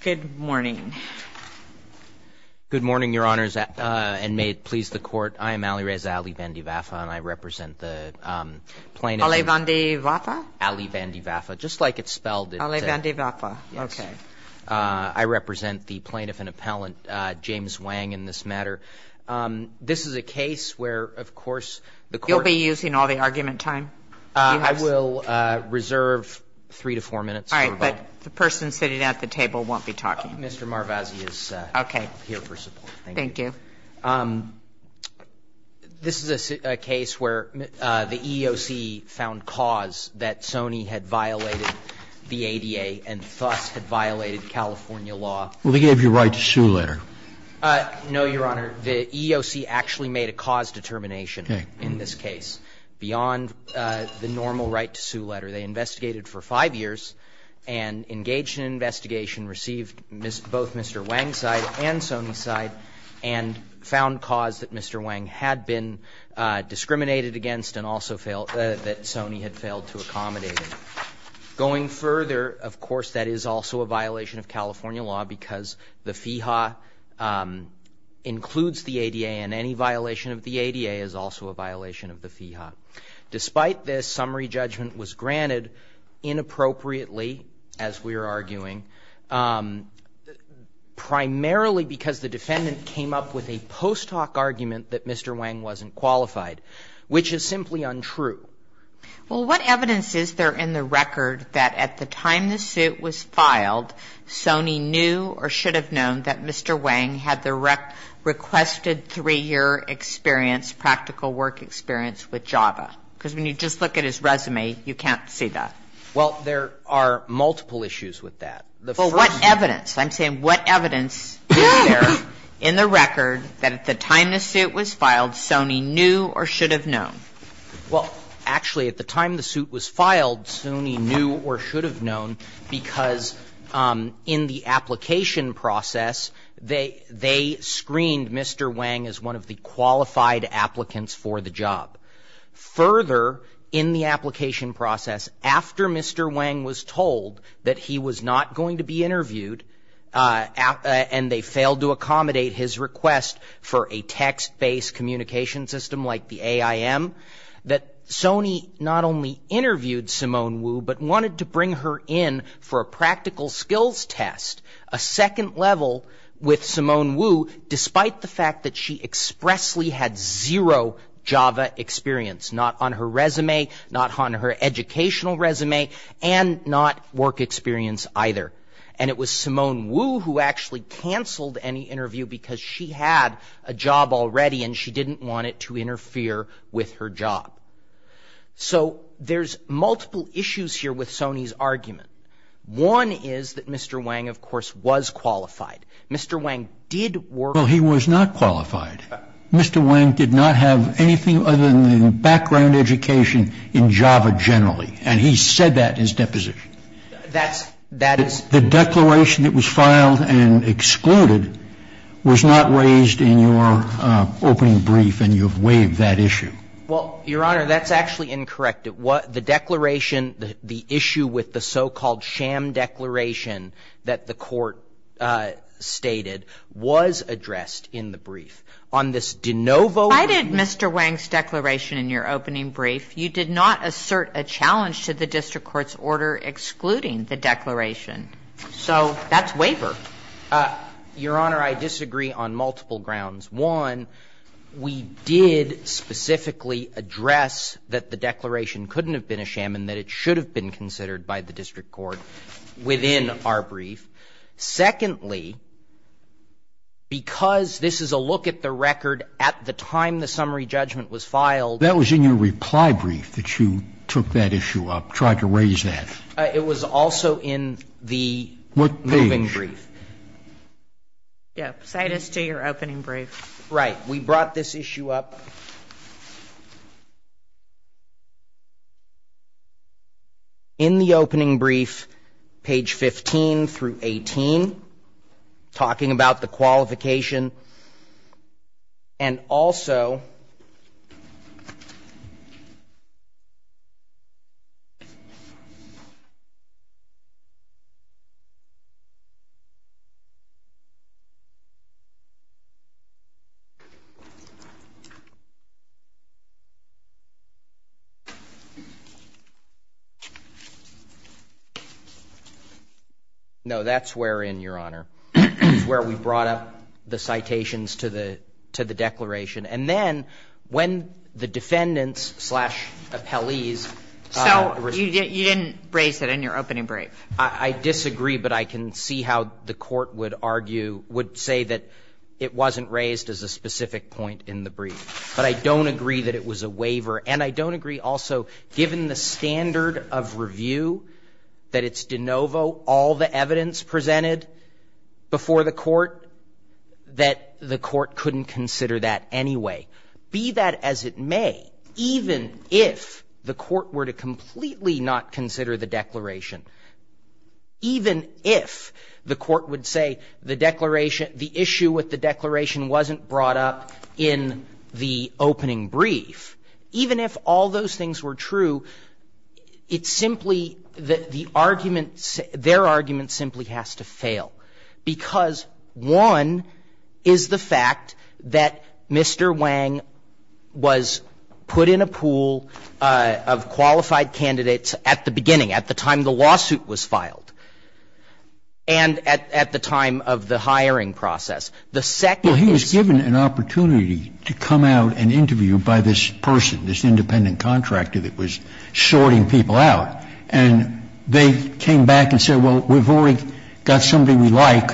Good morning. Good morning, Your Honors, and may it please the Court, I am Ali Reza Ali Vandi Vafa and I represent the plaintiff. Ali Vandi Vafa? Ali Vandi Vafa, just like it's spelled. Ali Vandi Vafa, okay. I represent the plaintiff and appellant James Wang in this matter. This is a case where, of course, the Court. You'll be using all the argument time. I will reserve three to four minutes. All right, but the person sitting at the table won't be talking. Mr. Marvazzi is here for support. Thank you. This is a case where the EEOC found cause that Sony had violated the ADA and thus had violated California law. Well, they gave you a right to sue later. No, Your Honor. The EEOC actually made a cause determination in this case beyond the normal right to sue letter. They investigated for five years and engaged in an investigation, received both Mr. Wang's side and Sony's side, and found cause that Mr. Wang had been discriminated against and also that Sony had failed to accommodate. Going further, of course, that is also a violation of California law because the FEHA includes the ADA, and any violation of the ADA is also a violation of the FEHA. Despite this, summary judgment was granted inappropriately, as we are arguing, primarily because the defendant came up with a post hoc argument that Mr. Wang wasn't qualified, which is simply untrue. Well, what evidence is there in the record that at the time the suit was filed, Sony knew or should have known that Mr. Wang had the requested three-year experience, practical work experience with JAVA? Because when you just look at his resume, you can't see that. Well, there are multiple issues with that. Well, what evidence? I'm saying what evidence is there in the record that at the time the suit was filed, Sony knew or should have known? Well, actually, at the time the suit was filed, Sony knew or should have known because in the application process, they screened Mr. Wang as one of the qualified applicants for the job. Further, in the application process, after Mr. Wang was told that he was not going to be interviewed and they failed to accommodate his request for a text-based communication system like the AIM, that Sony not only interviewed Simone Wu, but wanted to bring her in for a practical skills test, a second level with Simone Wu, despite the fact that she expressly had zero JAVA experience, not on her resume, not on her educational resume, and not work experience either. And it was Simone Wu who actually canceled any interview because she had a job already and she didn't want it to interfere with her job. So there's multiple issues here with Sony's argument. One is that Mr. Wang, of course, was qualified. Mr. Wang did not have anything other than background education in JAVA generally, and he said that in his deposition. The declaration that was filed and excluded was not raised in your opening brief and you have waived that issue. Well, Your Honor, that's actually incorrect. The declaration, the issue with the so-called sham declaration that the Court stated was addressed in the brief. On this de novo I did Mr. Wang's declaration in your opening brief. You did not assert a challenge to the district court's order excluding the declaration. So that's waiver. Your Honor, I disagree on multiple grounds. One, we did specifically address that the issue within our brief. Secondly, because this is a look at the record at the time the summary judgment was filed. That was in your reply brief that you took that issue up, tried to raise that. It was also in the moving brief. Yeah, cite us to your opening brief. Right. We brought this issue up. In the opening brief, page 15 through 18, talking about the qualification and also the fact that the court did not issue a challenge to the district court's order. No, that's wherein, Your Honor, is where we brought up the citations to the declaration. And then when the defendants slash appellees. So you didn't raise it in your opening brief. I disagree, but I can see how the Court would argue, would say that it wasn't raised as a specific point in the brief. But I don't agree that it was a waiver. And I don't agree that it was a waiver in any way, be that as it may, even if the court were to completely not consider the declaration, even if the court would say the declaration the issue with the declaration wasn't brought up in the opening brief, even if all those things were true, it's simply that the argument, their argument simply has to be that Mr. Wang was put in a pool of qualified candidates at the beginning, at the time the lawsuit was filed, and at the time of the hiring process. The second he was given an opportunity to come out and interview by this person, this independent contractor that was sorting people out, and they came back and said, well, we've already got somebody we like,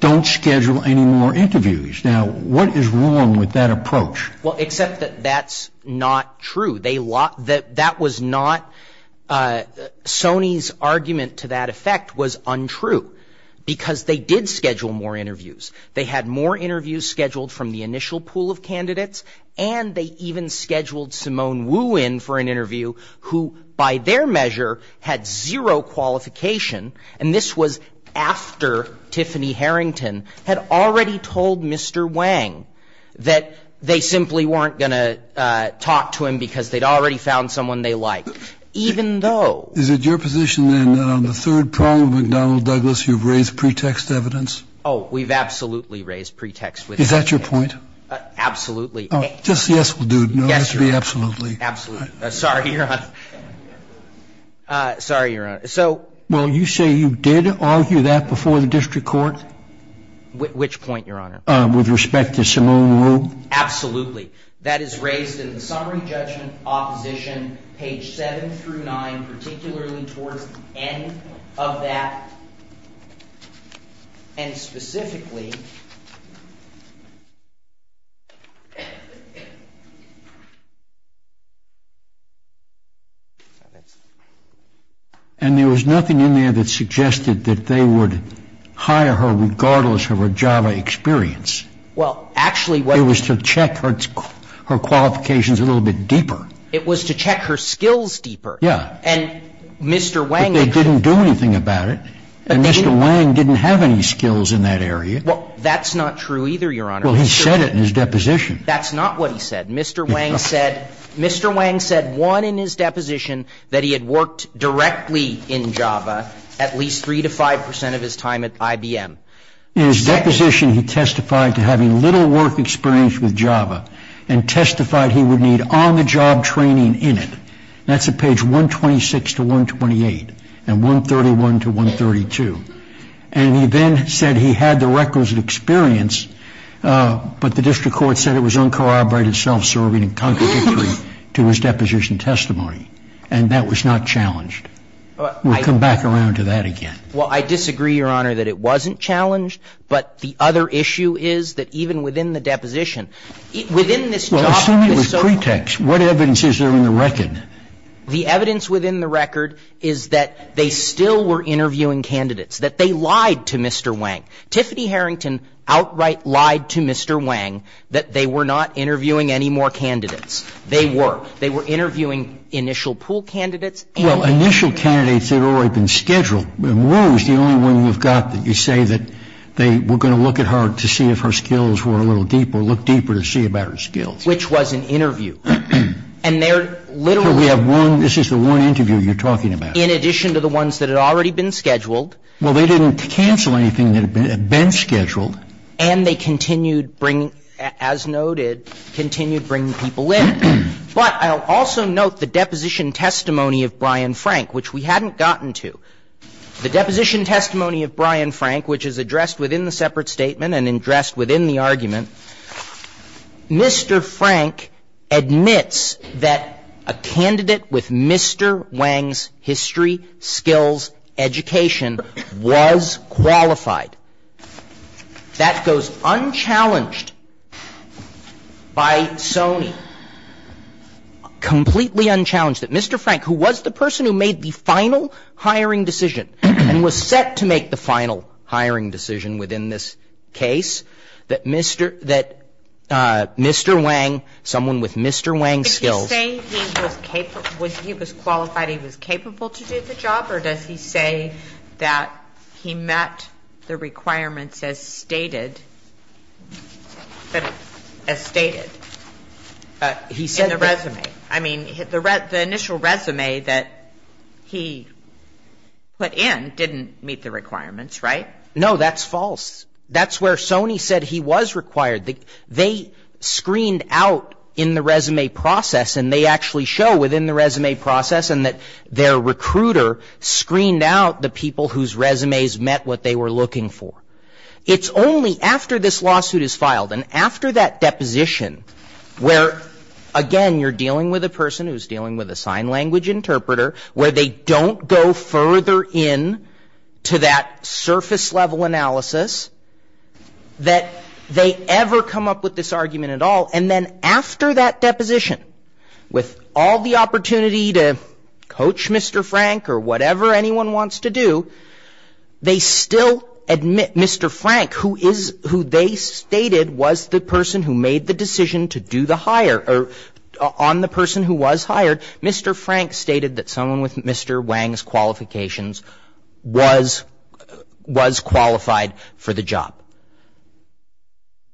don't schedule any more interviews. Now, what is wrong with that approach? Well, except that that's not true. That was not, Sony's argument to that effect was untrue, because they did schedule more interviews. They had more interviews scheduled from the initial pool of candidates, and they even scheduled Simone Wu in for an interview who, by their measure, had zero qualification, and this was after Tiffany Harrington had already told Mr. Wang that they simply weren't going to talk to him because they'd already found someone they liked, even though. Is it your position, then, that on the third prong of McDonnell Douglas you've raised pretext evidence? Oh, we've absolutely raised pretext evidence. Is that your point? Absolutely. Just a yes will do. Yes, Your Honor. No, it has to be absolutely. Absolutely. Sorry, Your Honor. Sorry, Your Honor. Well, you say you did argue that before the district court? Which point, Your Honor? With respect to Simone Wu? Absolutely. That is raised in the summary judgment opposition, page 7 through 9, particularly towards the end of that, and specifically... And there was nothing in there that suggested that they would hire her regardless of her Java experience. Well, actually... It was to check her qualifications a little bit deeper. It was to check her skills deeper. Yeah. And Mr. Wang... But they didn't do anything about it, and Mr. Wang didn't have any skills in that area. Well, that's not true either, Your Honor. Well, he said it in his deposition. That's not what he said. Mr. Wang said, Mr. Wang said, one, in his deposition, that he had worked directly in Java at least 3 to 5 percent of his time at IBM. In his deposition, he testified to having little work experience with Java and testified he would need on-the-job training in it. That's at page 126 to 128, and 131 to 132. And he then said he had the records of experience, but the district court said it was uncorroborated self-serving and contradictory to his deposition testimony, and that was not challenged. We'll come back around to that again. Well, I disagree, Your Honor, that it wasn't challenged, but the other issue is that even within the deposition, within this Java... Well, assume it was pretext. What evidence is there in the record? The evidence within the record is that they still were interviewing candidates, that they lied to Mr. Wang. Tiffany Harrington outright lied to Mr. Wang that they were not interviewing any more candidates. They were. They were interviewing initial pool candidates and... Well, initial candidates had already been scheduled. Wu is the only one we've got that you say that they were going to look at her to see if her skills were a little deeper, look deeper to see about her skills. Which was an interview. And they're literally... We have one. This is the one interview you're talking about. In addition to the ones that had already been scheduled. Well, they didn't cancel anything that had been scheduled. And they continued bringing, as noted, continued bringing people in. But I'll also note the deposition testimony of Brian Frank, which we hadn't gotten The deposition testimony of Brian Frank, which is addressed within the separate statement and addressed within the argument. Mr. Frank admits that a candidate with Mr. Wang's history, skills, education, was qualified. That goes unchallenged by Sony. Completely unchallenged. That Mr. Frank, who was the person who made the final hiring decision and was set to make the final hiring decision within this case, that Mr. Wang, someone with Mr. Wang's skills... Is he saying he was qualified, he was capable to do the job? Or does he say that he met the requirements as stated in the resume? The initial resume that he put in didn't meet the requirements, right? No, that's false. That's where Sony said he was required. They screened out in the resume process, and they actually show within the resume process, and that their recruiter screened out the people whose resumes met what they were looking for. It's only after this lawsuit is filed and after that deposition where, again, you're dealing with a person who's dealing with a sign language interpreter, where they don't go further in to that surface-level analysis that they ever come up with this argument at all. And then after that deposition, with all the opportunity to coach Mr. Frank or whatever anyone wants to do, they still admit Mr. Frank, who they stated was the hired, Mr. Frank stated that someone with Mr. Wang's qualifications was qualified for the job.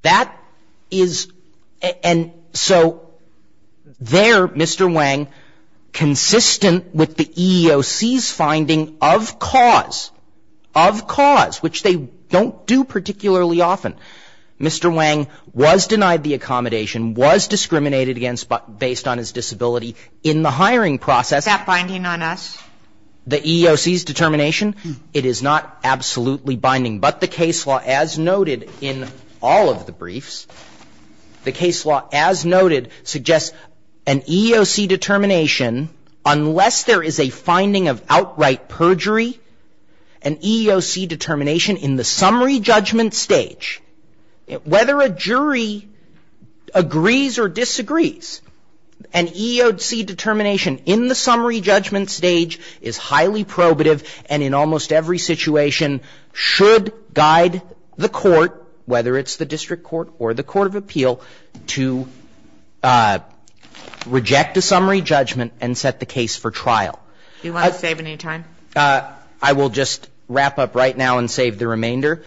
That is... And so there, Mr. Wang, consistent with the EEOC's finding of cause, of cause, which they don't do particularly often, Mr. Wang was denied the accommodation, was discriminated against based on his disability in the hiring process. Is that binding on us? The EEOC's determination? It is not absolutely binding. But the case law, as noted in all of the briefs, the case law, as noted, suggests an EEOC determination, unless there is a finding of outright perjury, an EEOC agrees or disagrees. An EEOC determination in the summary judgment stage is highly probative and in almost every situation should guide the court, whether it's the district court or the court of appeal, to reject a summary judgment and set the case for trial. Do you want to save any time? I will just wrap up right now and save the remainder.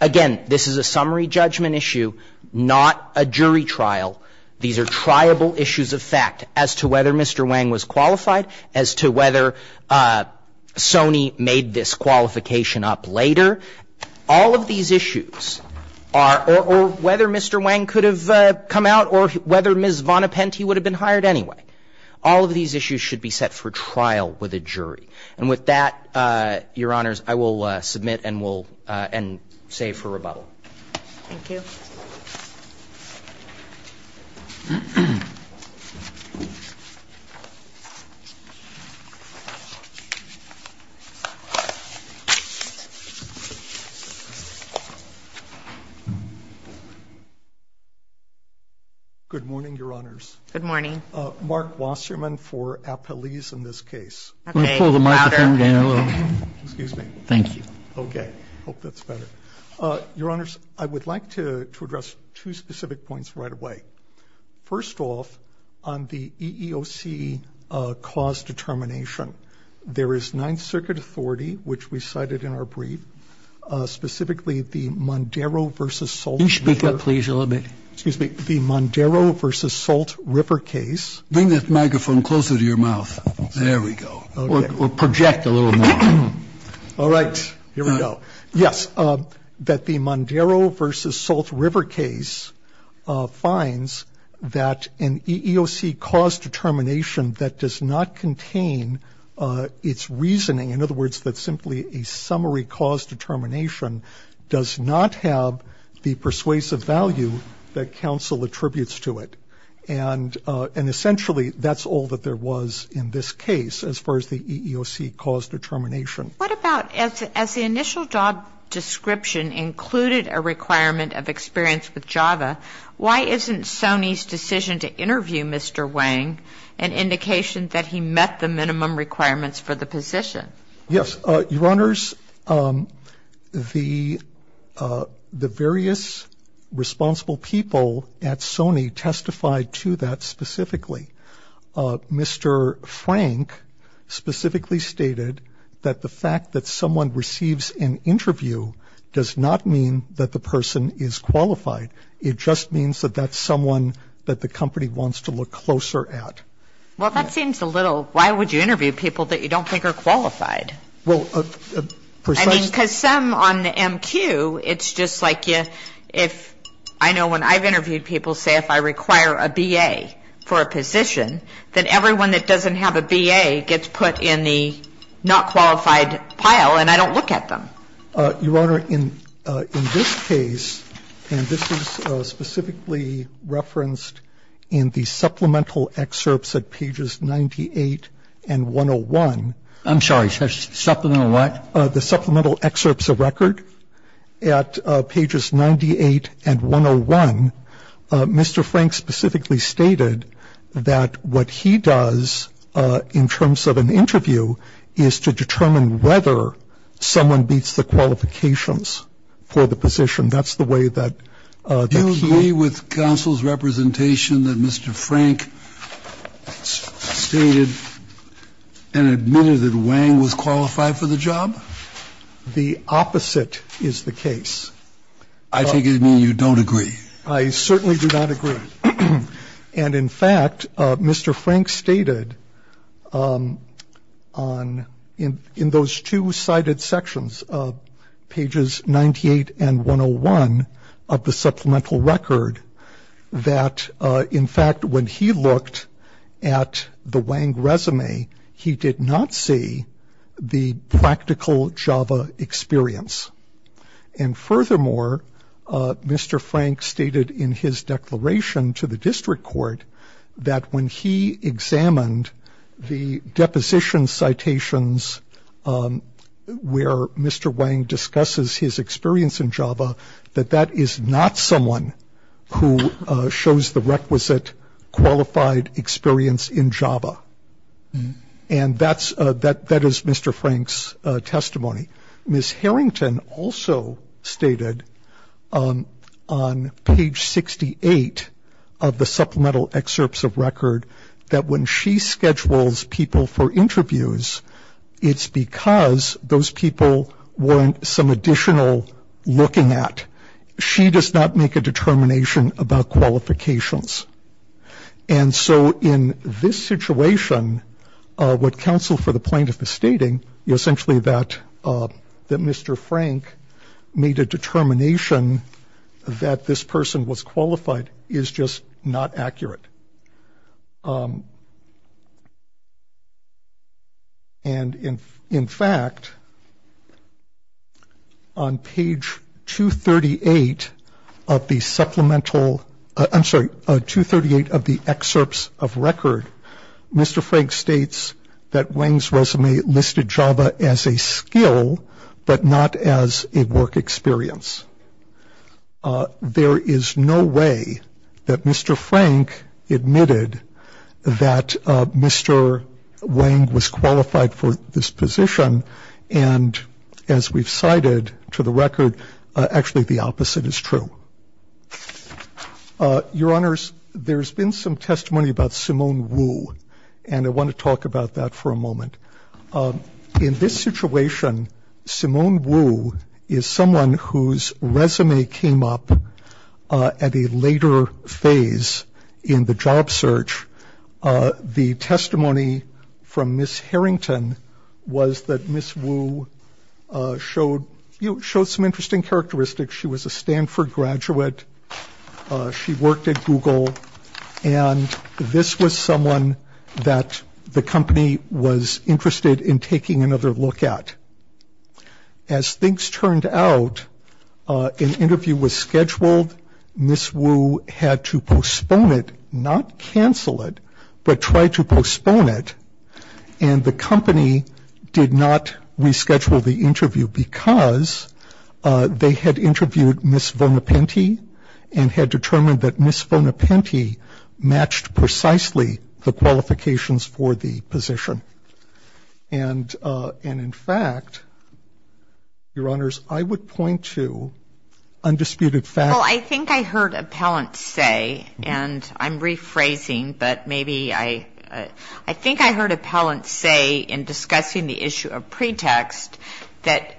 Again, this is a summary judgment issue, not a jury trial. These are triable issues of fact as to whether Mr. Wang was qualified, as to whether Sony made this qualification up later. All of these issues are or whether Mr. Wang could have come out or whether Ms. Von Apenty would have been hired anyway. All of these issues should be set for trial with a jury. And with that, Your Honors, I will submit and save for rebuttal. Thank you. Good morning, Your Honors. Good morning. Mark Wasserman for Appellees in this case. Can I pull the microphone down a little? Excuse me. Thank you. Okay. I hope that's better. Your Honors, I would like to address two specific points right away. First off, on the EEOC cause determination, there is Ninth Circuit authority, which we cited in our brief, specifically the Mondaro v. Salt River. You should speak up, please, a little bit. Excuse me. The Mondaro v. Salt River case. Bring that microphone closer to your mouth. There we go. Or project a little more. All right. Here we go. Yes. That the Mondaro v. Salt River case finds that an EEOC cause determination that does not contain its reasoning, in other words, that simply a summary cause determination does not have the persuasive value that counsel attributes to it. Essentially, that's all that there was in this case as far as the EEOC cause determination. What about as the initial job description included a requirement of experience with Java, why isn't Sony's decision to interview Mr. Wang an indication that he met the minimum requirements for the position? Yes. Your Honors, the various responsible people at Sony testified to that specifically. Mr. Frank specifically stated that the fact that someone receives an interview does not mean that the person is qualified. It just means that that's someone that the company wants to look closer at. Well, that seems a little, why would you interview people that you don't think are qualified? Well, precisely. I mean, because some on the MQ, it's just like if, I know when I've interviewed people, say if I require a B.A. for a position, then everyone that doesn't have a B.A. gets put in the not qualified pile and I don't look at them. Your Honor, in this case, and this is specifically referenced in the supplemental excerpts at pages 98 and 101. I'm sorry. Supplemental what? The supplemental excerpts of record at pages 98 and 101. Mr. Frank specifically stated that what he does in terms of an interview is to determine whether someone beats the qualifications for the position. That's the way that he. Do you agree with counsel's representation that Mr. Frank stated and admitted that Wang was qualified for the job? The opposite is the case. I take it you mean you don't agree. I certainly do not agree. And, in fact, Mr. Frank stated in those two cited sections, pages 98 and 101, of the supplemental record that, in fact, when he looked at the Wang resume, he did not see the practical JAVA experience. And, furthermore, Mr. Frank stated in his declaration to the district court that when he examined the deposition citations where Mr. Wang discusses his experience in JAVA, that that is not someone who shows the requisite qualified experience in JAVA. And that is Mr. Frank's testimony. Ms. Harrington also stated on page 68 of the supplemental excerpts of record that when she schedules people for interviews, it's because those people want some additional looking at. She does not make a determination about qualifications. And so in this situation, what counsel for the plaintiff is stating, essentially that Mr. Frank made a determination that this person was qualified is just not accurate. And, in fact, on page 238 of the supplemental, I'm sorry, 238 of the excerpts of record, Mr. Frank states that Wang's resume listed JAVA as a skill but not as a work experience. There is no way that Mr. Frank admitted that Mr. Wang was qualified for this position. And, as we've cited to the record, actually the opposite is true. Your Honors, there's been some testimony about Simone Wu, and I want to talk about that for a moment. In this situation, Simone Wu is someone whose resume came up at a later phase in the job search. The testimony from Ms. Harrington was that Ms. Wu showed some interesting characteristics. She was a Stanford graduate. She worked at Google. And this was someone that the company was interested in taking another look at. As things turned out, an interview was scheduled. Ms. Wu had to postpone it, not cancel it, but try to postpone it. And the company did not reschedule the interview because they had interviewed Ms. Vonepente and had determined that Ms. Vonepente matched precisely the qualifications for the position. And, in fact, Your Honors, I would point to undisputed facts. Well, I think I heard appellants say, and I'm rephrasing, but maybe I, I think I heard appellants say in discussing the issue of pretext that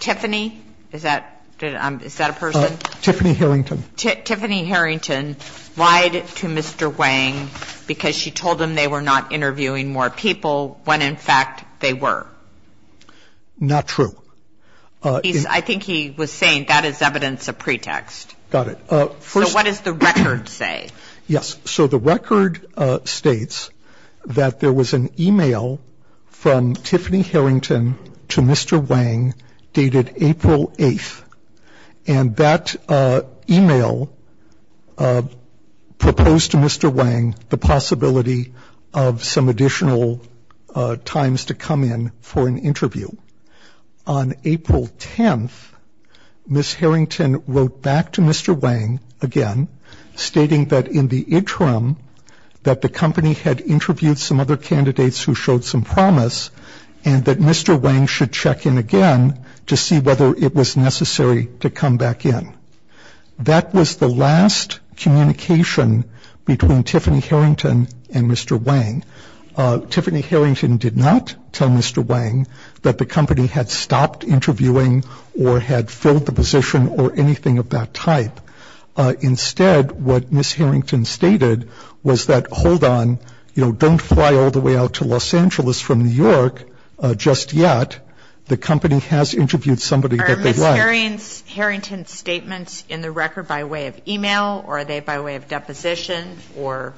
Tiffany, is that, is that a person? Tiffany Harrington. Tiffany Harrington lied to Mr. Wang because she told him they were not interviewing more people when, in fact, they were. Not true. I think he was saying that is evidence of pretext. Got it. So what does the record say? Yes. So the record states that there was an e-mail from Tiffany Harrington to Mr. Wang dated April 8th. And that e-mail proposed to Mr. Wang the possibility of some additional times to come in for an interview. On April 10th, Ms. Harrington wrote back to Mr. Wang again stating that in the interim that the company had interviewed some other candidates who showed some promise and that Mr. Wang should check in again to see whether it was necessary to come back in. That was the last communication between Tiffany Harrington and Mr. Wang. Tiffany Harrington did not tell Mr. Wang that the company had stopped interviewing or had filled the position or anything of that type. Instead, what Ms. Harrington stated was that, hold on, you know, don't fly all the way out to Los Angeles from New York just yet. The company has interviewed somebody that they like. So are the Harrington statements in the record by way of e-mail or are they by way of deposition or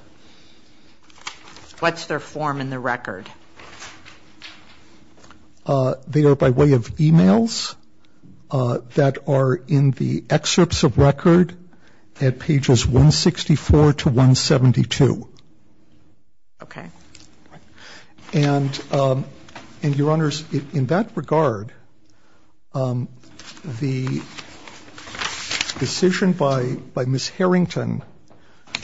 what's their form in the record? They are by way of e-mails that are in the excerpts of record at pages 164 to 172. Okay. And, Your Honors, in that regard, the decision by Ms. Harrington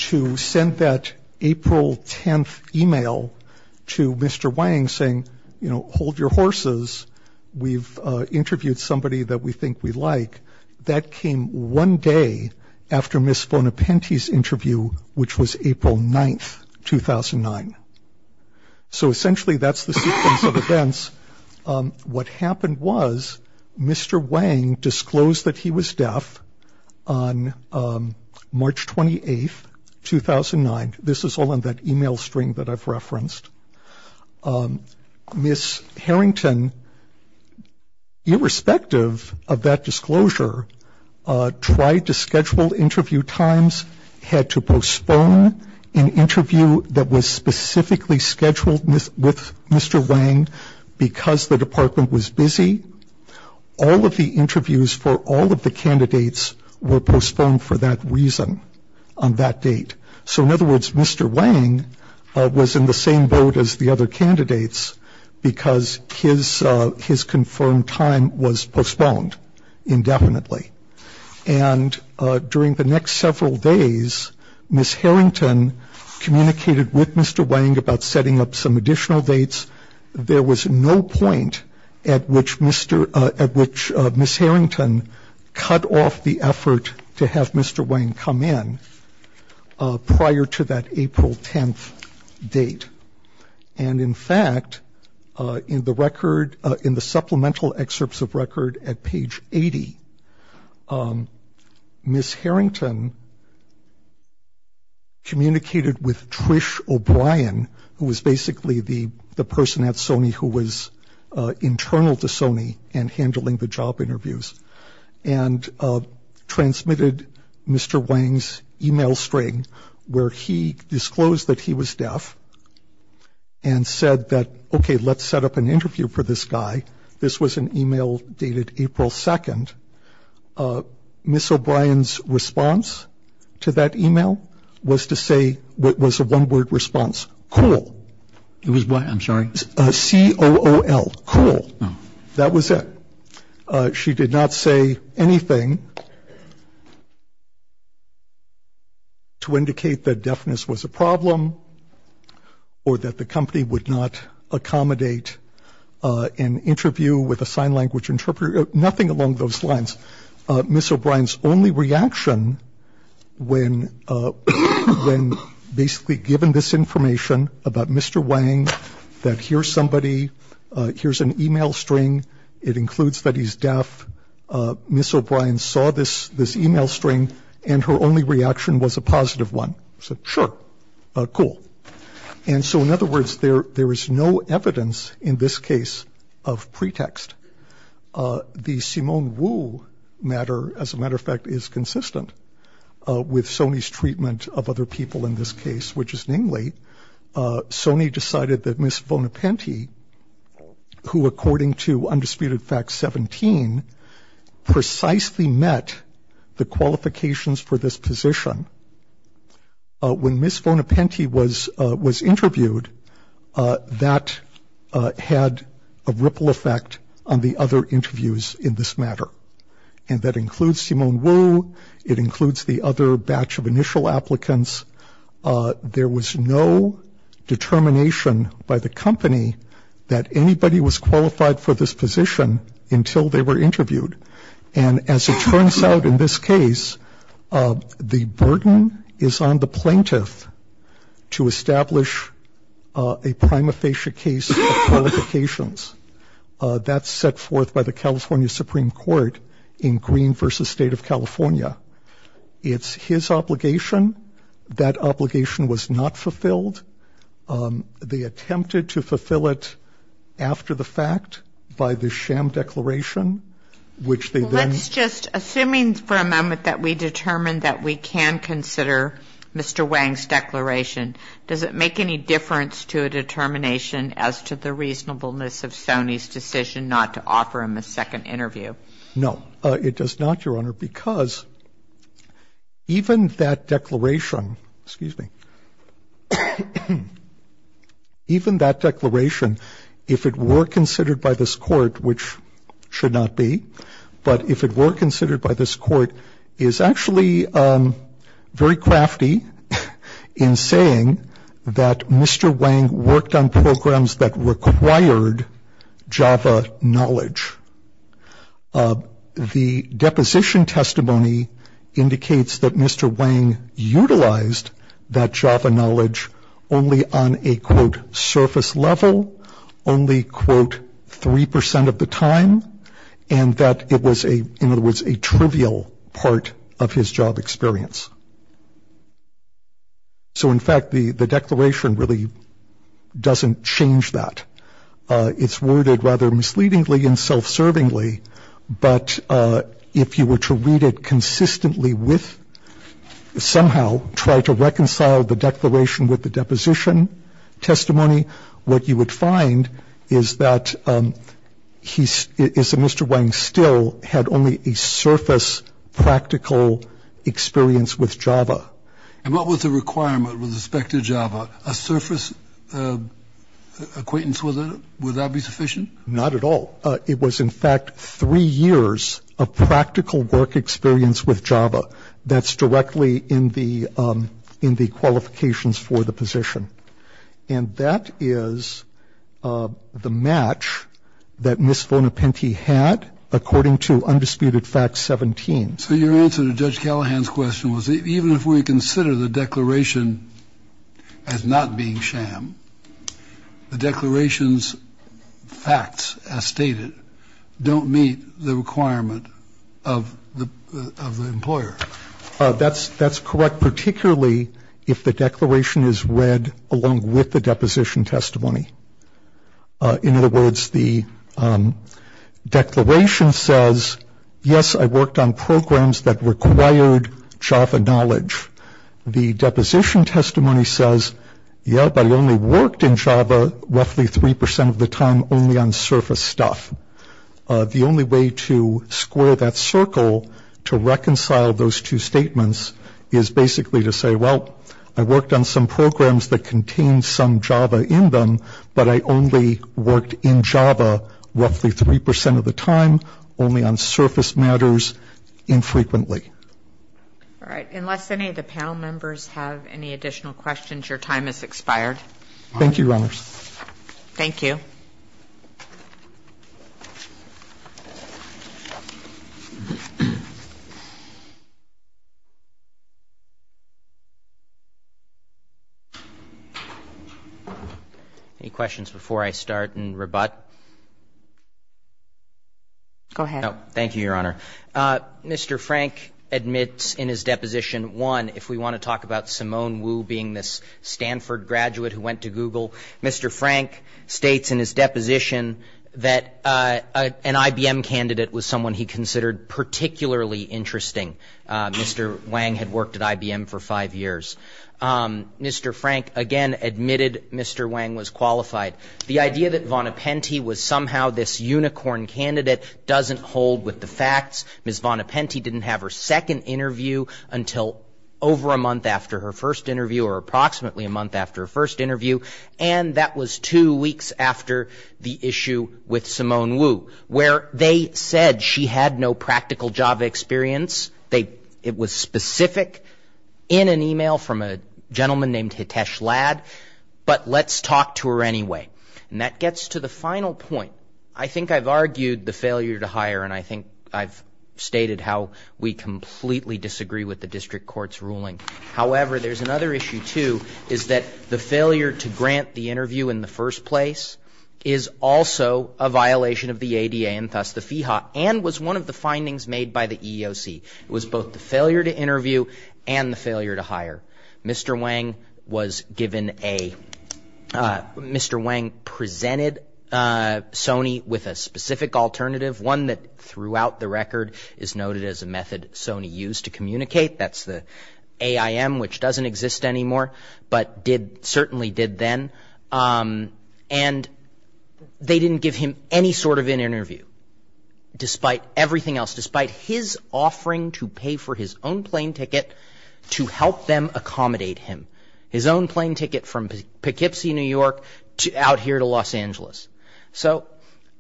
to send that April 10th e-mail to Mr. Wang saying, you know, hold your horses, we've interviewed somebody that we think we like, that came one day after Ms. Harrington's death in 2009. So essentially that's the sequence of events. What happened was Mr. Wang disclosed that he was deaf on March 28th, 2009. This is all in that e-mail string that I've referenced. Ms. Harrington, irrespective of that disclosure, tried to schedule interview times, had to schedule an interview that was specifically scheduled with Mr. Wang because the department was busy. All of the interviews for all of the candidates were postponed for that reason on that date. So, in other words, Mr. Wang was in the same boat as the other candidates because his confirmed time was postponed indefinitely. And during the next several days, Ms. Harrington communicated with Mr. Wang about setting up some additional dates. There was no point at which Ms. Harrington cut off the effort to have Mr. Wang come in prior to that April 10th date. And, in fact, in the supplemental excerpts of record at page 80, Ms. Harrington communicated with Trish O'Brien, who was basically the person at Sony who was internal to Sony and handling the job interviews, and transmitted Mr. Wang's e-mail string where he disclosed that he was deaf and said that, okay, let's set up an interview for this guy. This was an e-mail dated April 2nd. Ms. O'Brien's response to that e-mail was to say what was a one-word response, cool. It was what? I'm sorry. C-O-O-L, cool. That was it. She did not say anything to indicate that deafness was a problem or that the interview with a sign language interpreter, nothing along those lines. Ms. O'Brien's only reaction when basically given this information about Mr. Wang, that here's somebody, here's an e-mail string. It includes that he's deaf. Ms. O'Brien saw this e-mail string, and her only reaction was a positive one. She said, sure, cool. And so, in other words, there is no evidence in this case of pretext. The Simone Wu matter, as a matter of fact, is consistent with Sony's treatment of other people in this case, which is namely, Sony decided that Ms. Bonaparte, who according to Undisputed Fact 17, precisely met the qualifications for this position. When Ms. Bonaparte was interviewed, that had a ripple effect on the other interviews in this matter. And that includes Simone Wu. It includes the other batch of initial applicants. There was no determination by the company that anybody was qualified for this position until they were interviewed. And as it turns out in this case, the burden is on the plaintiff to establish a prima facie case of qualifications. That's set forth by the California Supreme Court in Green v. State of California. It's his obligation. That obligation was not fulfilled. They attempted to fulfill it after the fact by the sham declaration, which they then... Let's just, assuming for a moment that we determine that we can consider Mr. Wang's declaration, does it make any difference to a determination as to the reasonableness of Sony's decision not to offer him a second interview? No, it does not, Your Honor, because even that declaration, excuse me, even that declaration, if it were considered by this court, which should not be, but if it were considered by this court, is actually very crafty in saying that Mr. Wang worked on programs that required Java knowledge. The deposition testimony indicates that Mr. Wang utilized that Java knowledge only on a, quote, surface level, only, quote, 3% of the time. And that it was a, in other words, a trivial part of his job experience. So in fact, the declaration really doesn't change that. It's worded rather misleadingly and self-servingly. But if you were to read it consistently with, somehow, try to reconcile the declaration with the deposition testimony, what you would find is that Mr. Wang still had only a surface practical experience with Java. And what was the requirement with respect to Java? A surface acquaintance, would that be sufficient? Not at all. It was, in fact, three years of practical work experience with Java. That's directly in the, in the qualifications for the position. And that is the match that Ms. Von Apenty had according to Undisputed Fact 17. Kennedy. So your answer to Judge Callahan's question was even if we consider the declaration as not being sham, the declaration's facts, as stated, don't meet the requirement of the, of the employer. That's, that's correct, particularly if the declaration is read along with the deposition testimony. In other words, the declaration says, yes, I worked on programs that required Java knowledge. The deposition testimony says, yeah, but I only worked in Java roughly 3% of the time only on surface stuff. The only way to square that circle to reconcile those two statements is basically to say, well, I worked on some programs that contained some Java in them, but I only worked in Java roughly 3% of the time, only on surface matters infrequently. All right. Unless any of the panel members have any additional questions, your time has expired. Thank you, Your Honor. Thank you. Any questions before I start and rebut? Go ahead. Thank you, Your Honor. Mr. Frank admits in his deposition, one, if we want to talk about Simone Wu being this Stanford graduate who went to Google, Mr. Frank states in his deposition that an IBM candidate was someone he considered particularly interesting. Mr. Wang had worked at IBM for five years. Mr. Frank, again, admitted Mr. Wang was qualified. The idea that Von Appenty was somehow this unicorn candidate doesn't hold with the facts. Ms. Von Appenty didn't have her second interview until over a month after her first interview or approximately a month after her first interview, and that was two weeks after the issue with Simone Wu, where they said she had no practical Java experience. It was specific in an email from a gentleman named Hitesh Lad, but let's talk to her anyway. And that gets to the final point. I think I've argued the failure to hire, and I think I've stated how we completely disagree with the district court's ruling. However, there's another issue, too, is that the failure to grant the interview in the first place is also a violation of the ADA and thus the FEHA and was one of the findings made by the EEOC. It was both the failure to interview and the failure to hire. Mr. Wang presented Sony with a specific alternative, one that throughout the record is noted as a method Sony used to communicate. That's the AIM, which doesn't exist anymore but certainly did then. And they didn't give him any sort of an interview, despite everything else, despite his offering to pay for his own plane ticket to help them accommodate him. His own plane ticket from Poughkeepsie, New York out here to Los Angeles. So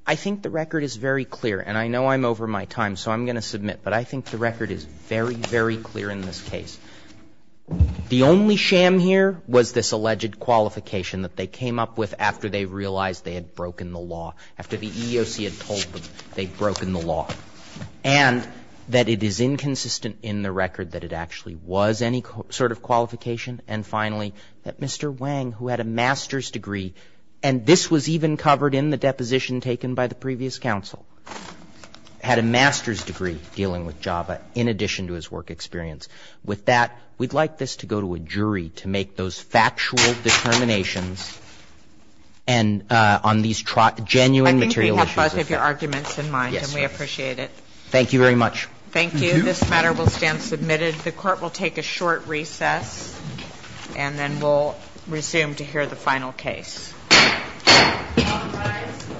I think the record is very clear, and I know I'm over my time so I'm going to submit, but I think the record is very, very clear in this case. The only sham here was this alleged qualification that they came up with after they realized they had broken the law, after the EEOC had told them they'd broken the law. And that it is inconsistent in the record that it actually was any sort of qualification. And finally, that Mr. Wang, who had a master's degree, and this was even covered in the deposition taken by the previous counsel, had a master's degree dealing with JAVA in addition to his work experience. With that, we'd like this to go to a jury to make those factual determinations on these genuine material issues. Thank you very much. Thank you. This matter will stand submitted. The Court will take a short recess, and then we'll resume to hear the final case. All rise.